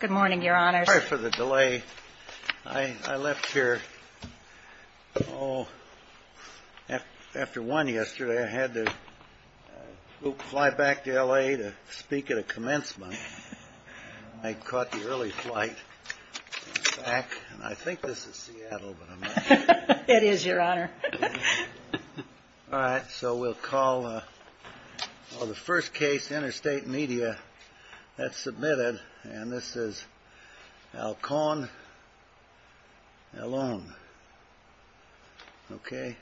Good morning, Your Honors. Sorry for the delay. I left here after 1 yesterday. I had to fly back to L.A. to speak at a commencement. I caught the early flight. I think this is Seattle. It is, Your Honor. All right, so we'll call the first case, Interstate Media. That's submitted. And this is Alcon-Ailon. Okay.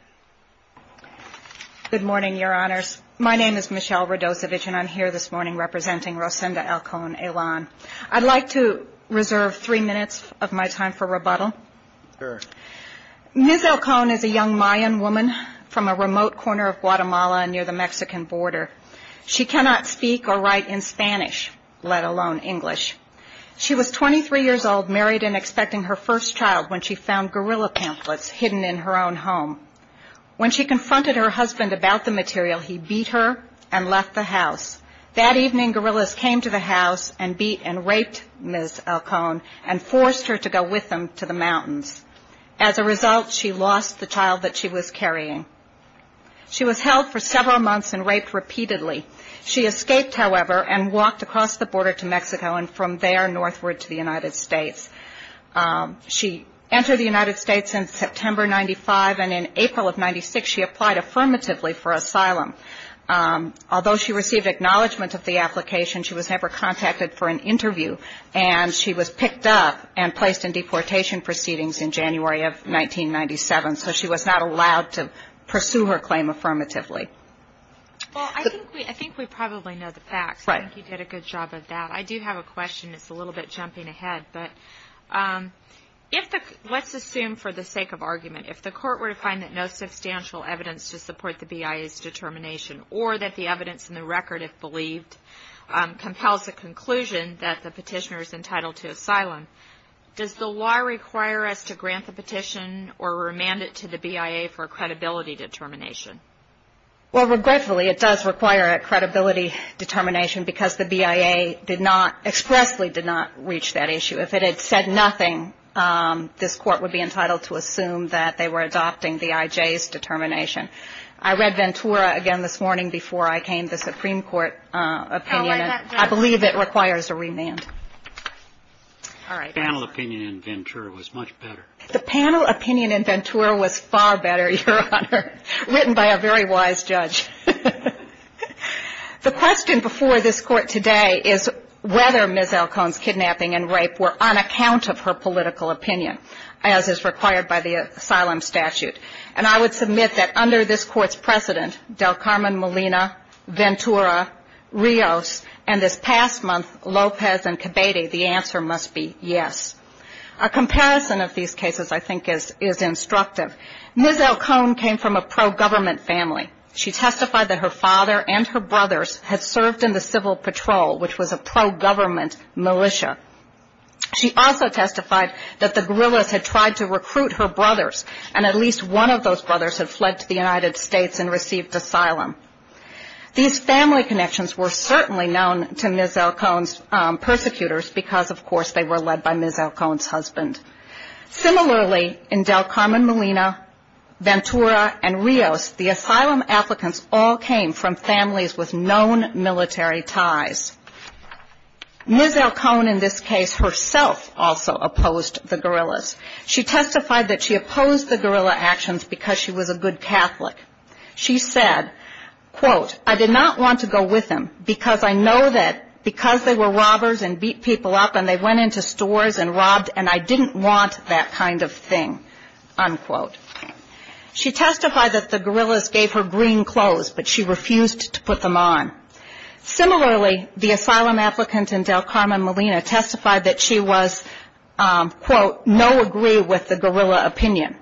Good morning, Your Honors. My name is Michelle Radosevich, and I'm here this morning representing Rosinda Alcon-Ailon. I'd like to reserve three minutes of my time for rebuttal. Ms. Alcon is a young Mayan woman from a remote corner of Guatemala near the Mexican border. She cannot speak or write in Spanish, let alone English. She was 23 years old, married and expecting her first child when she found guerrilla pamphlets hidden in her own home. When she confronted her husband about the material, he beat her and left the house. That evening, guerrillas came to the house and beat and raped Ms. Alcon and forced her to go with them to the mountains. As a result, she lost the child that she was carrying. She was held for several months and raped repeatedly. She escaped, however, and walked across the border to Mexico and from there northward to the United States. She entered the United States in September 95, and in April of 96, she applied affirmatively for asylum. Although she received acknowledgment of the application, she was never contacted for an interview, and she was picked up and placed in deportation proceedings in January of 1997, so she was not allowed to pursue her claim affirmatively. Well, I think we probably know the facts. I think you did a good job of that. I do have a question. It's a little bit jumping ahead. Let's assume for the sake of argument, if the court were to find that no substantial evidence to support the BIA's determination or that the evidence in the record, if believed, compels a conclusion that the petitioner is entitled to asylum, does the law require us to grant the petition or remand it to the BIA for a credibility determination? Well, regretfully, it does require a credibility determination because the BIA expressly did not reach that issue. If it had said nothing, this court would be entitled to assume that they were adopting the IJ's determination. I read Ventura again this morning before I came, the Supreme Court opinion, and I believe it requires a remand. Panel opinion in Ventura was much better. The panel opinion in Ventura was far better, Your Honor, written by a very wise judge. The question before this court today is whether Ms. Alcone's kidnapping and rape were on account of her political opinion, as is required by the asylum statute. And I would submit that under this court's precedent, Del Carmen Molina, Ventura, Rios, and this past month, Lopez and Cabedi, the answer must be yes. A comparison of these cases, I think, is instructive. Ms. Alcone came from a pro-government family. She testified that her father and her brothers had served in the Civil Patrol, which was a pro-government militia. She also testified that the guerrillas had tried to recruit her brothers, and at least one of those brothers had fled to the United States and received asylum. These family connections were certainly known to Ms. Alcone's persecutors because, of course, they were led by Ms. Alcone's husband. Similarly, in Del Carmen Molina, Ventura, and Rios, the asylum applicants all came from Ms. Alcone, in this case, herself also opposed the guerrillas. She testified that she opposed the guerrilla actions because she was a good Catholic. She said, quote, I did not want to go with them because I know that because they were robbers and beat people up, and they went into stores and robbed, and I didn't want that kind of thing, unquote. She testified that the guerrillas gave her green clothes, but she refused to put them on. Similarly, the asylum applicant in Del Carmen Molina testified that she was, quote, no agree with the guerrilla opinion.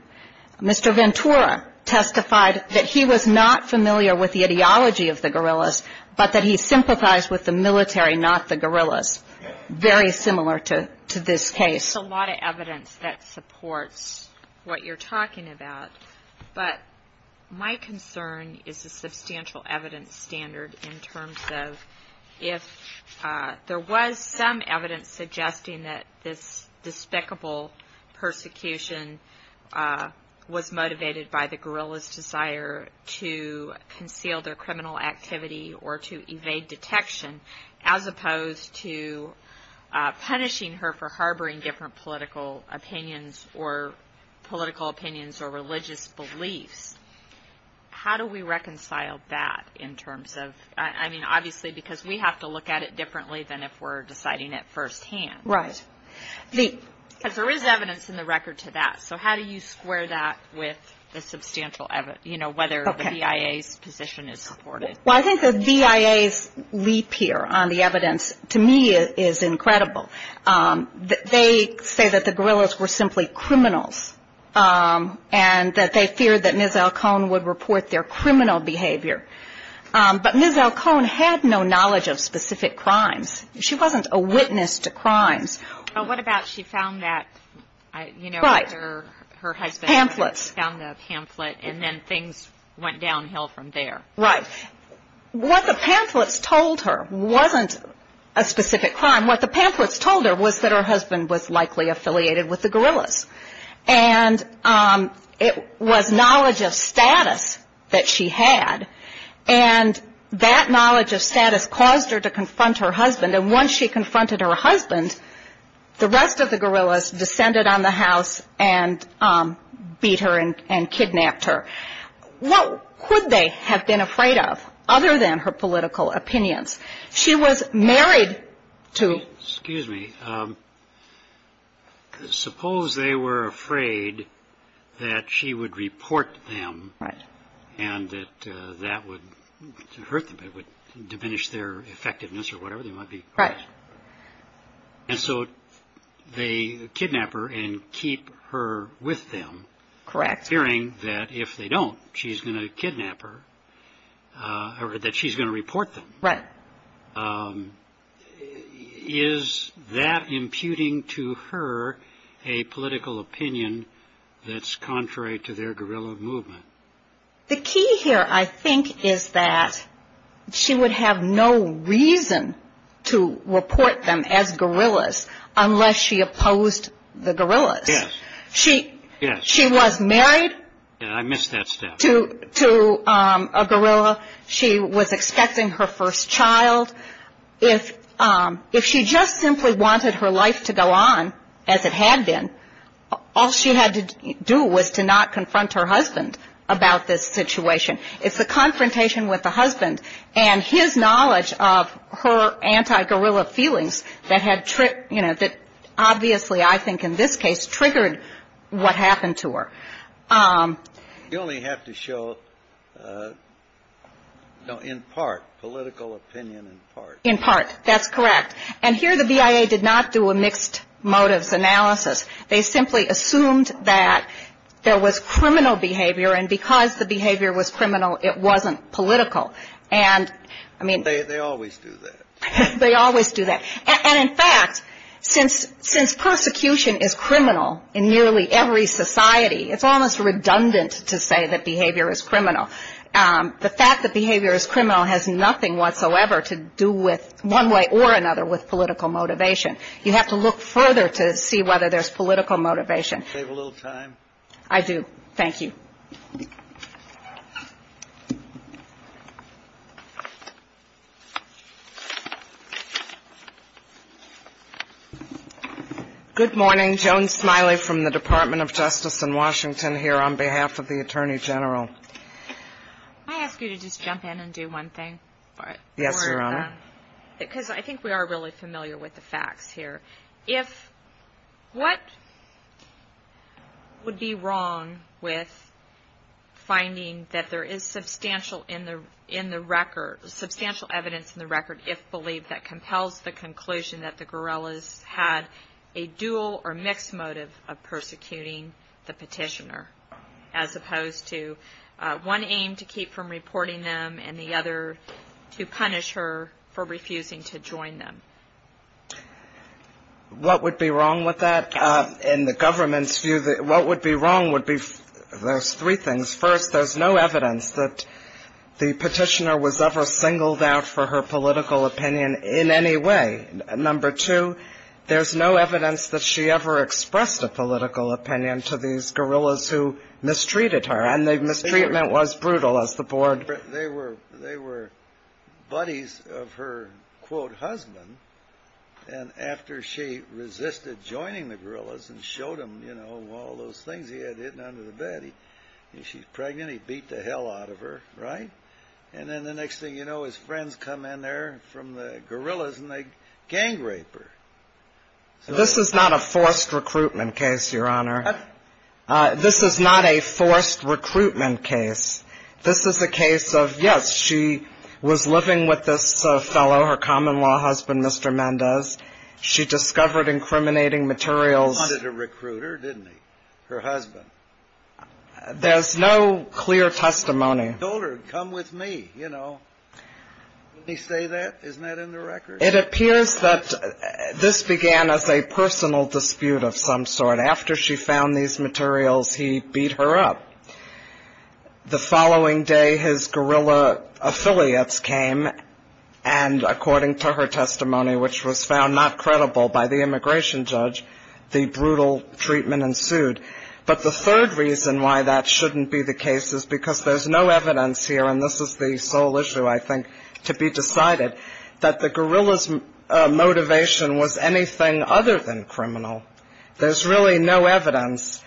Mr. Ventura testified that he was not familiar with the ideology of the guerrillas, but that he sympathized with the military, not the guerrillas. Very similar to this case. There's a lot of evidence that supports what you're talking about, but my concern is the terms of if there was some evidence suggesting that this despicable persecution was motivated by the guerrillas' desire to conceal their criminal activity or to evade detection, as opposed to punishing her for harboring different political opinions or religious beliefs. How do we reconcile that in terms of, I mean, obviously, because we have to look at it differently than if we're deciding it firsthand. Right. Because there is evidence in the record to that, so how do you square that with the substantial evidence, you know, whether the BIA's position is supported? Well, I think the BIA's leap here on the evidence, to me, is incredible. They say that the guerrillas were simply criminals, and that they feared that Ms. Alcone would report their criminal behavior. But Ms. Alcone had no knowledge of specific crimes. She wasn't a witness to crimes. But what about she found that, you know, her husband found the pamphlet, and then things went downhill from there. Right. What the pamphlets told her wasn't a specific crime. What the pamphlets told her was that her husband was likely affiliated with the guerrillas. And it was knowledge of status that she had. And that knowledge of status caused her to confront her husband. And once she confronted her husband, the rest of the guerrillas descended on the house and beat her and kidnapped her. What could they have been afraid of, other than her political opinions? She was married to Excuse me. Suppose they were afraid that she would report them, and that that would hurt them, it would diminish their effectiveness or whatever they might be. And so they kidnap her and keep her with them, fearing that if they don't, she's going to kidnap her, or that she's going to report them. Right. Is that imputing to her a political opinion that's contrary to their guerrilla movement? The key here, I think, is that she would have no reason to report them as guerrillas unless she opposed the guerrillas. Yes. She was married I missed that step. to a guerrilla. She was expecting her first child. If she just simply wanted her life to go on as it had been, all she had to do was to not confront her husband about this situation. It's the confrontation with the husband and his knowledge of her anti-guerrilla feelings that had tripped, you know, that obviously I think in this case triggered what happened to her. You only have to show, you know, in part, political opinion in part. In part. That's correct. And here the BIA did not do a mixed motives analysis. They simply assumed that there was criminal behavior, and because the behavior was criminal, it wasn't political. And, I mean They always do that. They always do that. And, in fact, since persecution is criminal in nearly every society, it's almost redundant to say that behavior is criminal. The fact that behavior is criminal has nothing whatsoever to do with, one way or another, with political motivation. You have to look further to see whether there's political motivation. Do you have a little time? I do. Thank you. Good morning. Joan Smiley from the Department of Justice in Washington here on behalf of the Attorney General. Can I ask you to just jump in and do one thing? Yes, Your Honor. Because I think we are really familiar with the facts here. If, what would be wrong with finding that there is substantial evidence in the record, if believed, that compels the conclusion that the guerrillas had a dual or mixed motive of persecuting the petitioner, as opposed to one aim to keep from reporting them, and the other to punish her for refusing to join them? What would be wrong with that? In the government's view, what would be wrong would be there's three things. First, there's no evidence that the petitioner was ever singled out for her political opinion in any way. Number two, there's no evidence that she ever expressed a political opinion to these guerrillas who mistreated her. And the mistreatment was brutal, as the board ---- They were buddies of her, quote, husband. And after she resisted joining the guerrillas and showed them, you know, all those things he had hidden under the bed, she's pregnant, he beat the hell out of her, right? And then the next thing you know, his friends come in there from the guerrillas and they gang rape her. This is not a forced recruitment case, Your Honor. This is not a forced recruitment case. This is a case of, yes, she was living with this fellow, her common-law husband, Mr. Mendez. She discovered incriminating materials. He wanted a recruiter, didn't he, her husband? There's no clear testimony. He told her, come with me, you know. Didn't he say that? Isn't that in the record? It appears that this began as a personal dispute of some sort. After she found these materials, he beat her up. The following day, his guerrilla affiliates came, and according to her testimony, which was found not credible by the immigration judge, the brutal treatment ensued. But the third reason why that shouldn't be the case is because there's no evidence here ---- and this is the sole issue, I think, to be decided ---- that the guerrillas' motivation was anything other than criminal. There's really no evidence.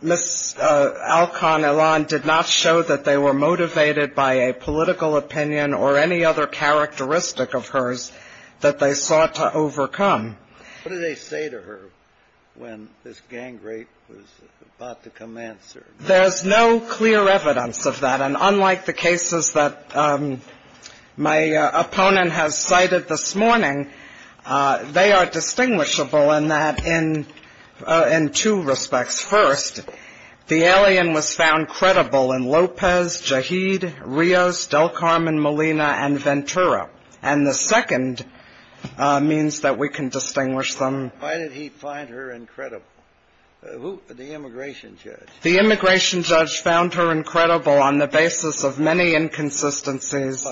Ms. Alcon-Ilan did not show that they were motivated by a political opinion or any other characteristic of hers that they sought to overcome. What did they say to her when this gang-rape was about to commence? There's no clear evidence of that, and unlike the cases that my opponent has cited this time, they are distinguishable in that in two respects. First, the alien was found credible in Lopez, Jaheed, Rios, Del Carmen, Molina, and Ventura. And the second means that we can distinguish them. Why did he find her incredible? The immigration judge. The immigration judge found her incredible on the basis of many inconsistencies.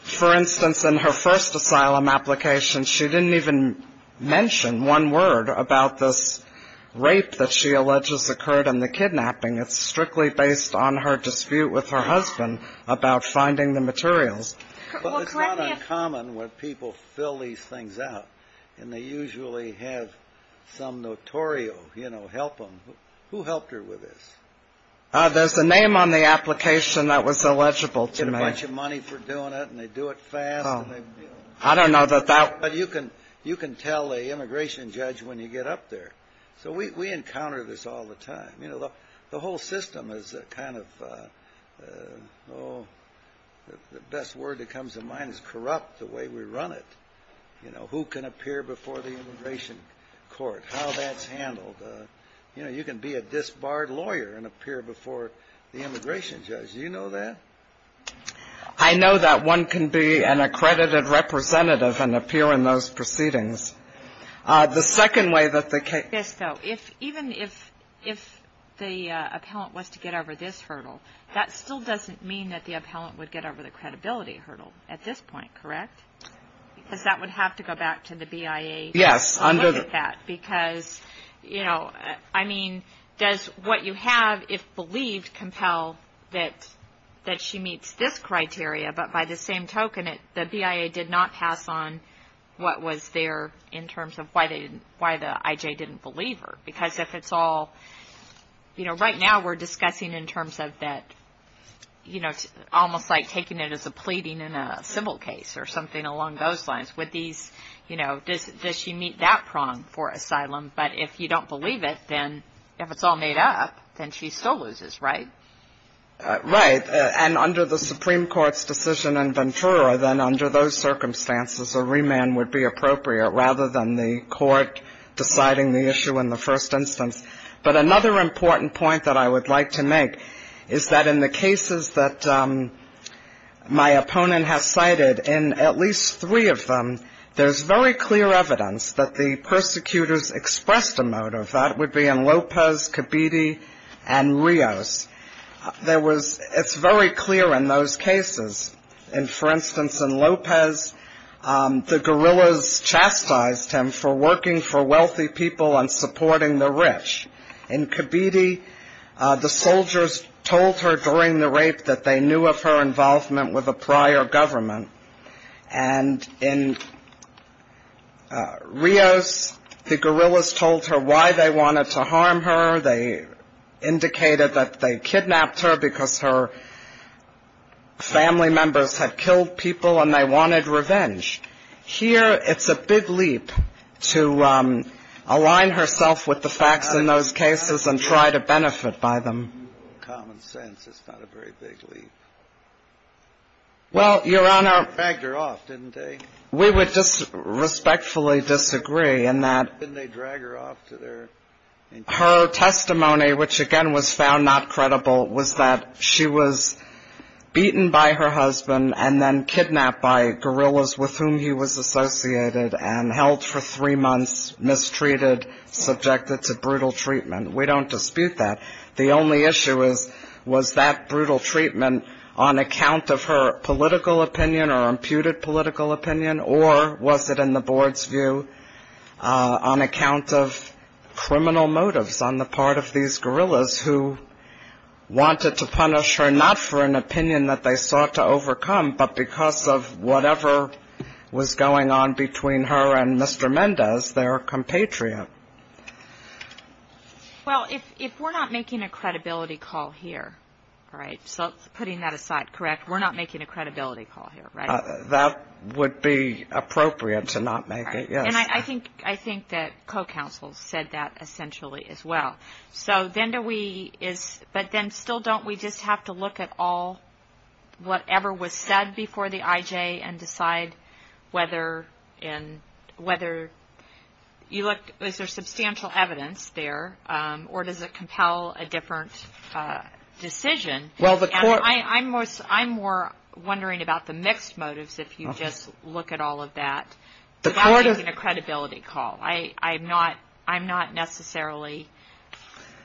For instance, in her first asylum application, she didn't even mention one word about this rape that she alleges occurred in the kidnapping. It's strictly based on her dispute with her husband about finding the materials. But it's not uncommon when people fill these things out, and they usually have some notorious help them. Who helped her with this? There's a name on the application that was illegible to me. They want you money for doing it, and they do it fast. I don't know that that... You can tell an immigration judge when you get up there. So we encounter this all the time. The whole system is kind of, the best word that comes to mind is corrupt, the way we run it. You know, who can appear before the immigration court, how that's handled. You can be a disbarred lawyer and appear before the immigration judge. Do you know that? I know that one can be an accredited representative and appear in those proceedings. The second way that they can... Yes, though. Even if the appellant was to get over this hurdle, that still doesn't mean that the appellant would get over the credibility hurdle at this point, correct? Because that would have to go back to the BIA to look at that. Yes. You know, I mean, does what you have, if believed, compel that she meets this criteria, but by the same token, the BIA did not pass on what was there in terms of why the IJ didn't believe her? Because if it's all... You know, right now we're discussing in terms of that, you know, almost like taking it as a pleading in a civil case or something along those lines. Would these, you know, does she meet that prong for asylum? But if you don't believe it, then if it's all made up, then she still loses, right? Right. And under the Supreme Court's decision in Ventura, then under those circumstances, a remand would be appropriate rather than the court deciding the issue in the first instance. But another important point that I would like to make is that in the cases that my opponent has cited, in at least three of them, there's very clear evidence that the persecutors expressed a motive. That would be in Lopez, Kibiti, and Rios. There was... It's very clear in those cases. And for instance, in Lopez, the guerrillas chastised him for working for wealthy people and supporting the rich. In Kibiti, the soldiers told her during the rape that they knew of her involvement with a prior government. And in Rios, the guerrillas told her why they wanted to harm her. They indicated that they kidnapped her because her family members had killed people and they wanted revenge. Here it's a big leap to align herself with the facts in those cases and try to benefit by them. In common sense, it's not a very big leap. Well, Your Honor... They dragged her off, didn't they? We would respectfully disagree in that... Didn't they drag her off to their... Her testimony, which again was found not credible, was that she was beaten by her husband and then kidnapped by guerrillas with whom he was associated and held for three months, mistreated, subjected to brutal treatment. We don't dispute that. The only issue is, was that brutal treatment on account of her political opinion or imputed political opinion, or was it in the board's view on account of criminal motives on the part of these guerrillas who wanted to punish her not for an opinion that they sought to overcome but because of whatever was going on between her and Mr. Mendez, their compatriot? Well, if we're not making a credibility call here, all right, so putting that aside, correct, we're not making a credibility call here, right? That would be appropriate to not make it, yes. And I think that co-counsel said that essentially as well. So then do we... But then still don't we just have to look at all whatever was said before the IJ and decide whether and whether you look, is there substantial evidence there or does it compel a different decision? Well the court... And I'm more wondering about the mixed motives if you just look at all of that without making a credibility call. I'm not necessarily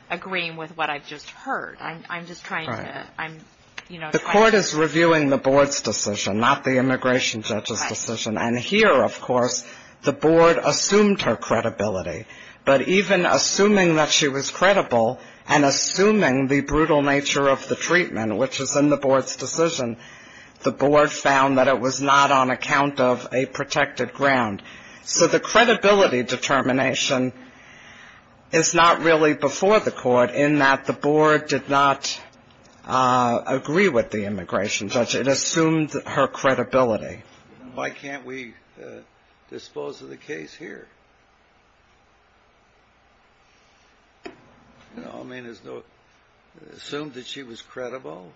agreeing with what I've just heard. I'm just trying to, you know... The court is reviewing the board's decision, not the immigration judge's decision. And here, of course, the board assumed her credibility. But even assuming that she was credible and assuming the brutal nature of the treatment, which is in the board's decision, the board found that it was not on account of a protected ground. So the credibility determination is not really before the court in that the board did not agree with the immigration judge. It assumed her credibility. Why can't we dispose of the case here? No, I mean, there's no... Assumed that she was credible.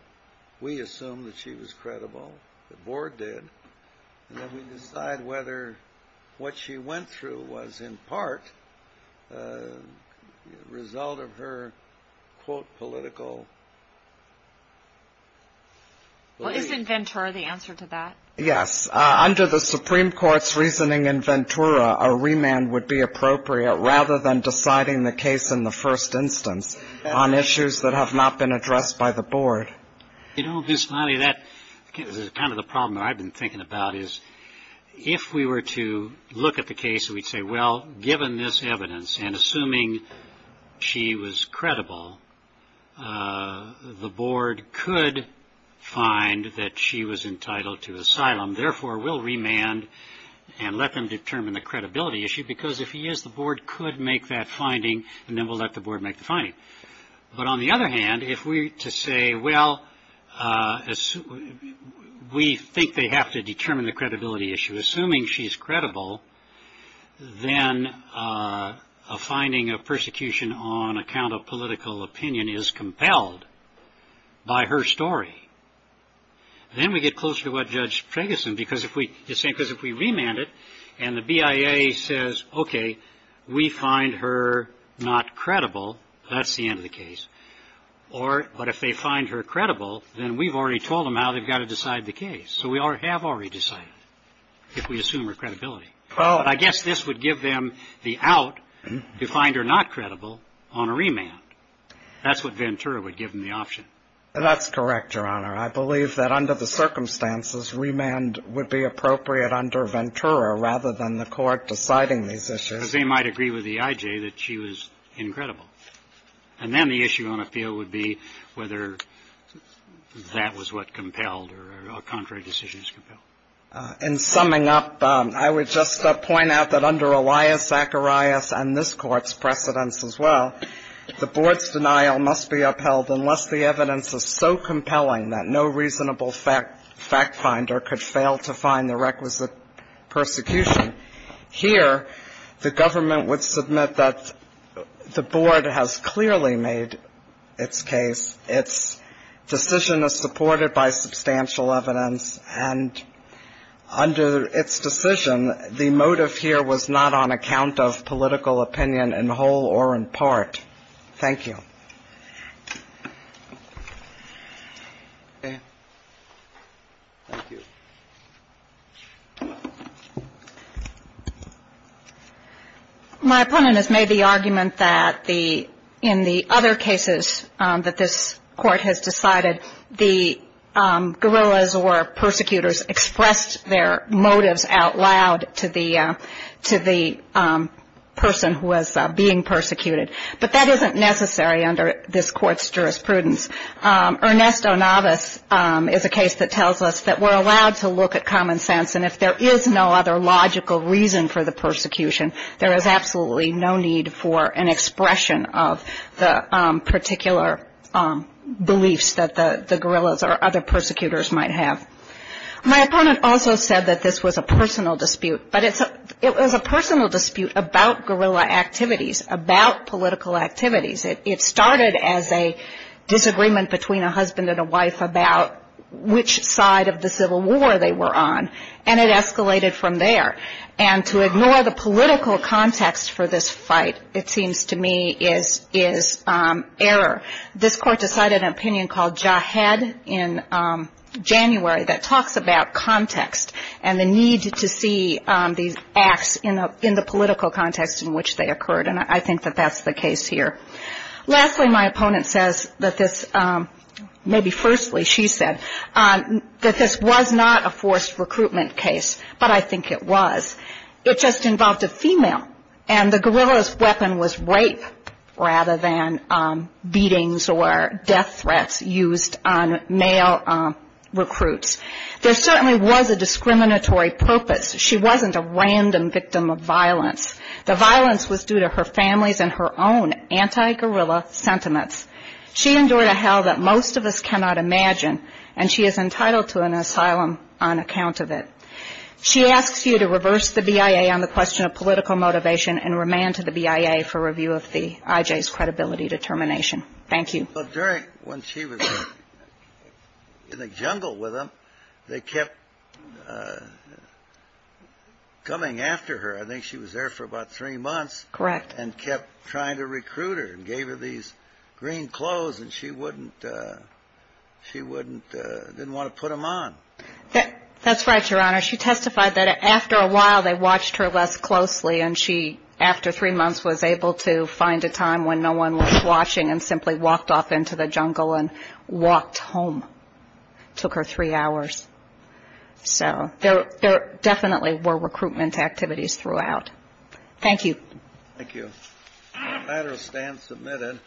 We assumed that she was credible. The board did. And then we decide whether what she went through was in part a result of her, quote, political... Well, isn't Ventura the answer to that? Yes. Under the Supreme Court's reasoning in Ventura, a remand would be appropriate rather than deciding the case in the first instance on issues that have not been addressed by the board. You know, Ms. Lally, that is kind of the problem that I've been thinking about is if we were to look at the case, we'd say, well, given this evidence, and assuming she was credible, the board could find that she was entitled to asylum, therefore, we'll remand and let them determine the credibility issue because if he is, the board could make that finding and then we'll let the board make the finding. But on the other hand, if we were to say, well, we think they have to determine the credibility, then a finding of persecution on account of political opinion is compelled by her story. Then we get closer to what Judge Ferguson, because if we remand it and the BIA says, okay, we find her not credible, that's the end of the case. But if they find her credible, then we've already told them how they've got to decide the case. So we have already decided if we assume her credibility. I guess this would give them the out to find her not credible on a remand. That's what Ventura would give them the option. That's correct, Your Honor. I believe that under the circumstances, remand would be appropriate under Ventura rather than the court deciding these issues. Because they might agree with the IJ that she was incredible. And then the issue on appeal would be whether that was what compelled or contrary decisions compelled. In summing up, I would just point out that under Elias Zacharias and this Court's precedents as well, the board's denial must be upheld unless the evidence is so compelling that no reasonable fact finder could fail to find the requisite persecution. Here, the government would submit that the board has clearly made its case. Its decision is supported by substantial evidence. And under its decision, the motive here was not on account of political opinion in whole or in part. Thank you. Thank you. My opponent has made the argument that in the other cases that this Court has decided, the guerrillas or persecutors expressed their motives out loud to the person who was being persecuted. But that isn't necessary under this Court's jurisprudence. Ernesto Navas is a case that tells us that we're allowed to look at common sense. And if there is no other logical reason for the persecution, there is absolutely no need for an expression of the particular beliefs that the guerrillas or other persecutors might have. My opponent also said that this was a personal dispute. But it was a personal dispute about guerrilla activities, about political activities. It started as a disagreement between a husband and a wife about which side of the Civil War they were on. And it escalated from there. And to ignore the political context for this fight, it seems to me, is error. This Court decided an opinion called Jahed in January that talks about context and the need to see these acts in the political context in which they occurred. And I think that that's the case here. Lastly, my opponent says that this, maybe firstly, she said, that this was not a forced recruitment case. But I think it was. It just involved a female. And the guerrilla's weapon was rape rather than beatings or death threats used on male recruits. There certainly was a discriminatory purpose. She wasn't a random victim of violence. The violence was due to her family's and her own anti-guerrilla sentiments. She endured a hell that most of us cannot imagine. And she is entitled to an asylum on account of it. She asks you to reverse the BIA on the question of political motivation and remand to the BIA for review of the IJ's credibility determination. Thank you. Well, during, when she was in the jungle with them, they kept coming after her. I think she was there for about three months. Correct. And kept trying to recruit her and gave her these green clothes. And she wouldn't, she wouldn't, didn't want to put them on. That's right, Your Honor. She testified that after a while they watched her less closely. And she, after three months, was able to find a time when no one was watching and simply walked off into the jungle and walked home. Took her three hours. So there definitely were recruitment activities throughout. Thank you. Thank you. The matter stands submitted.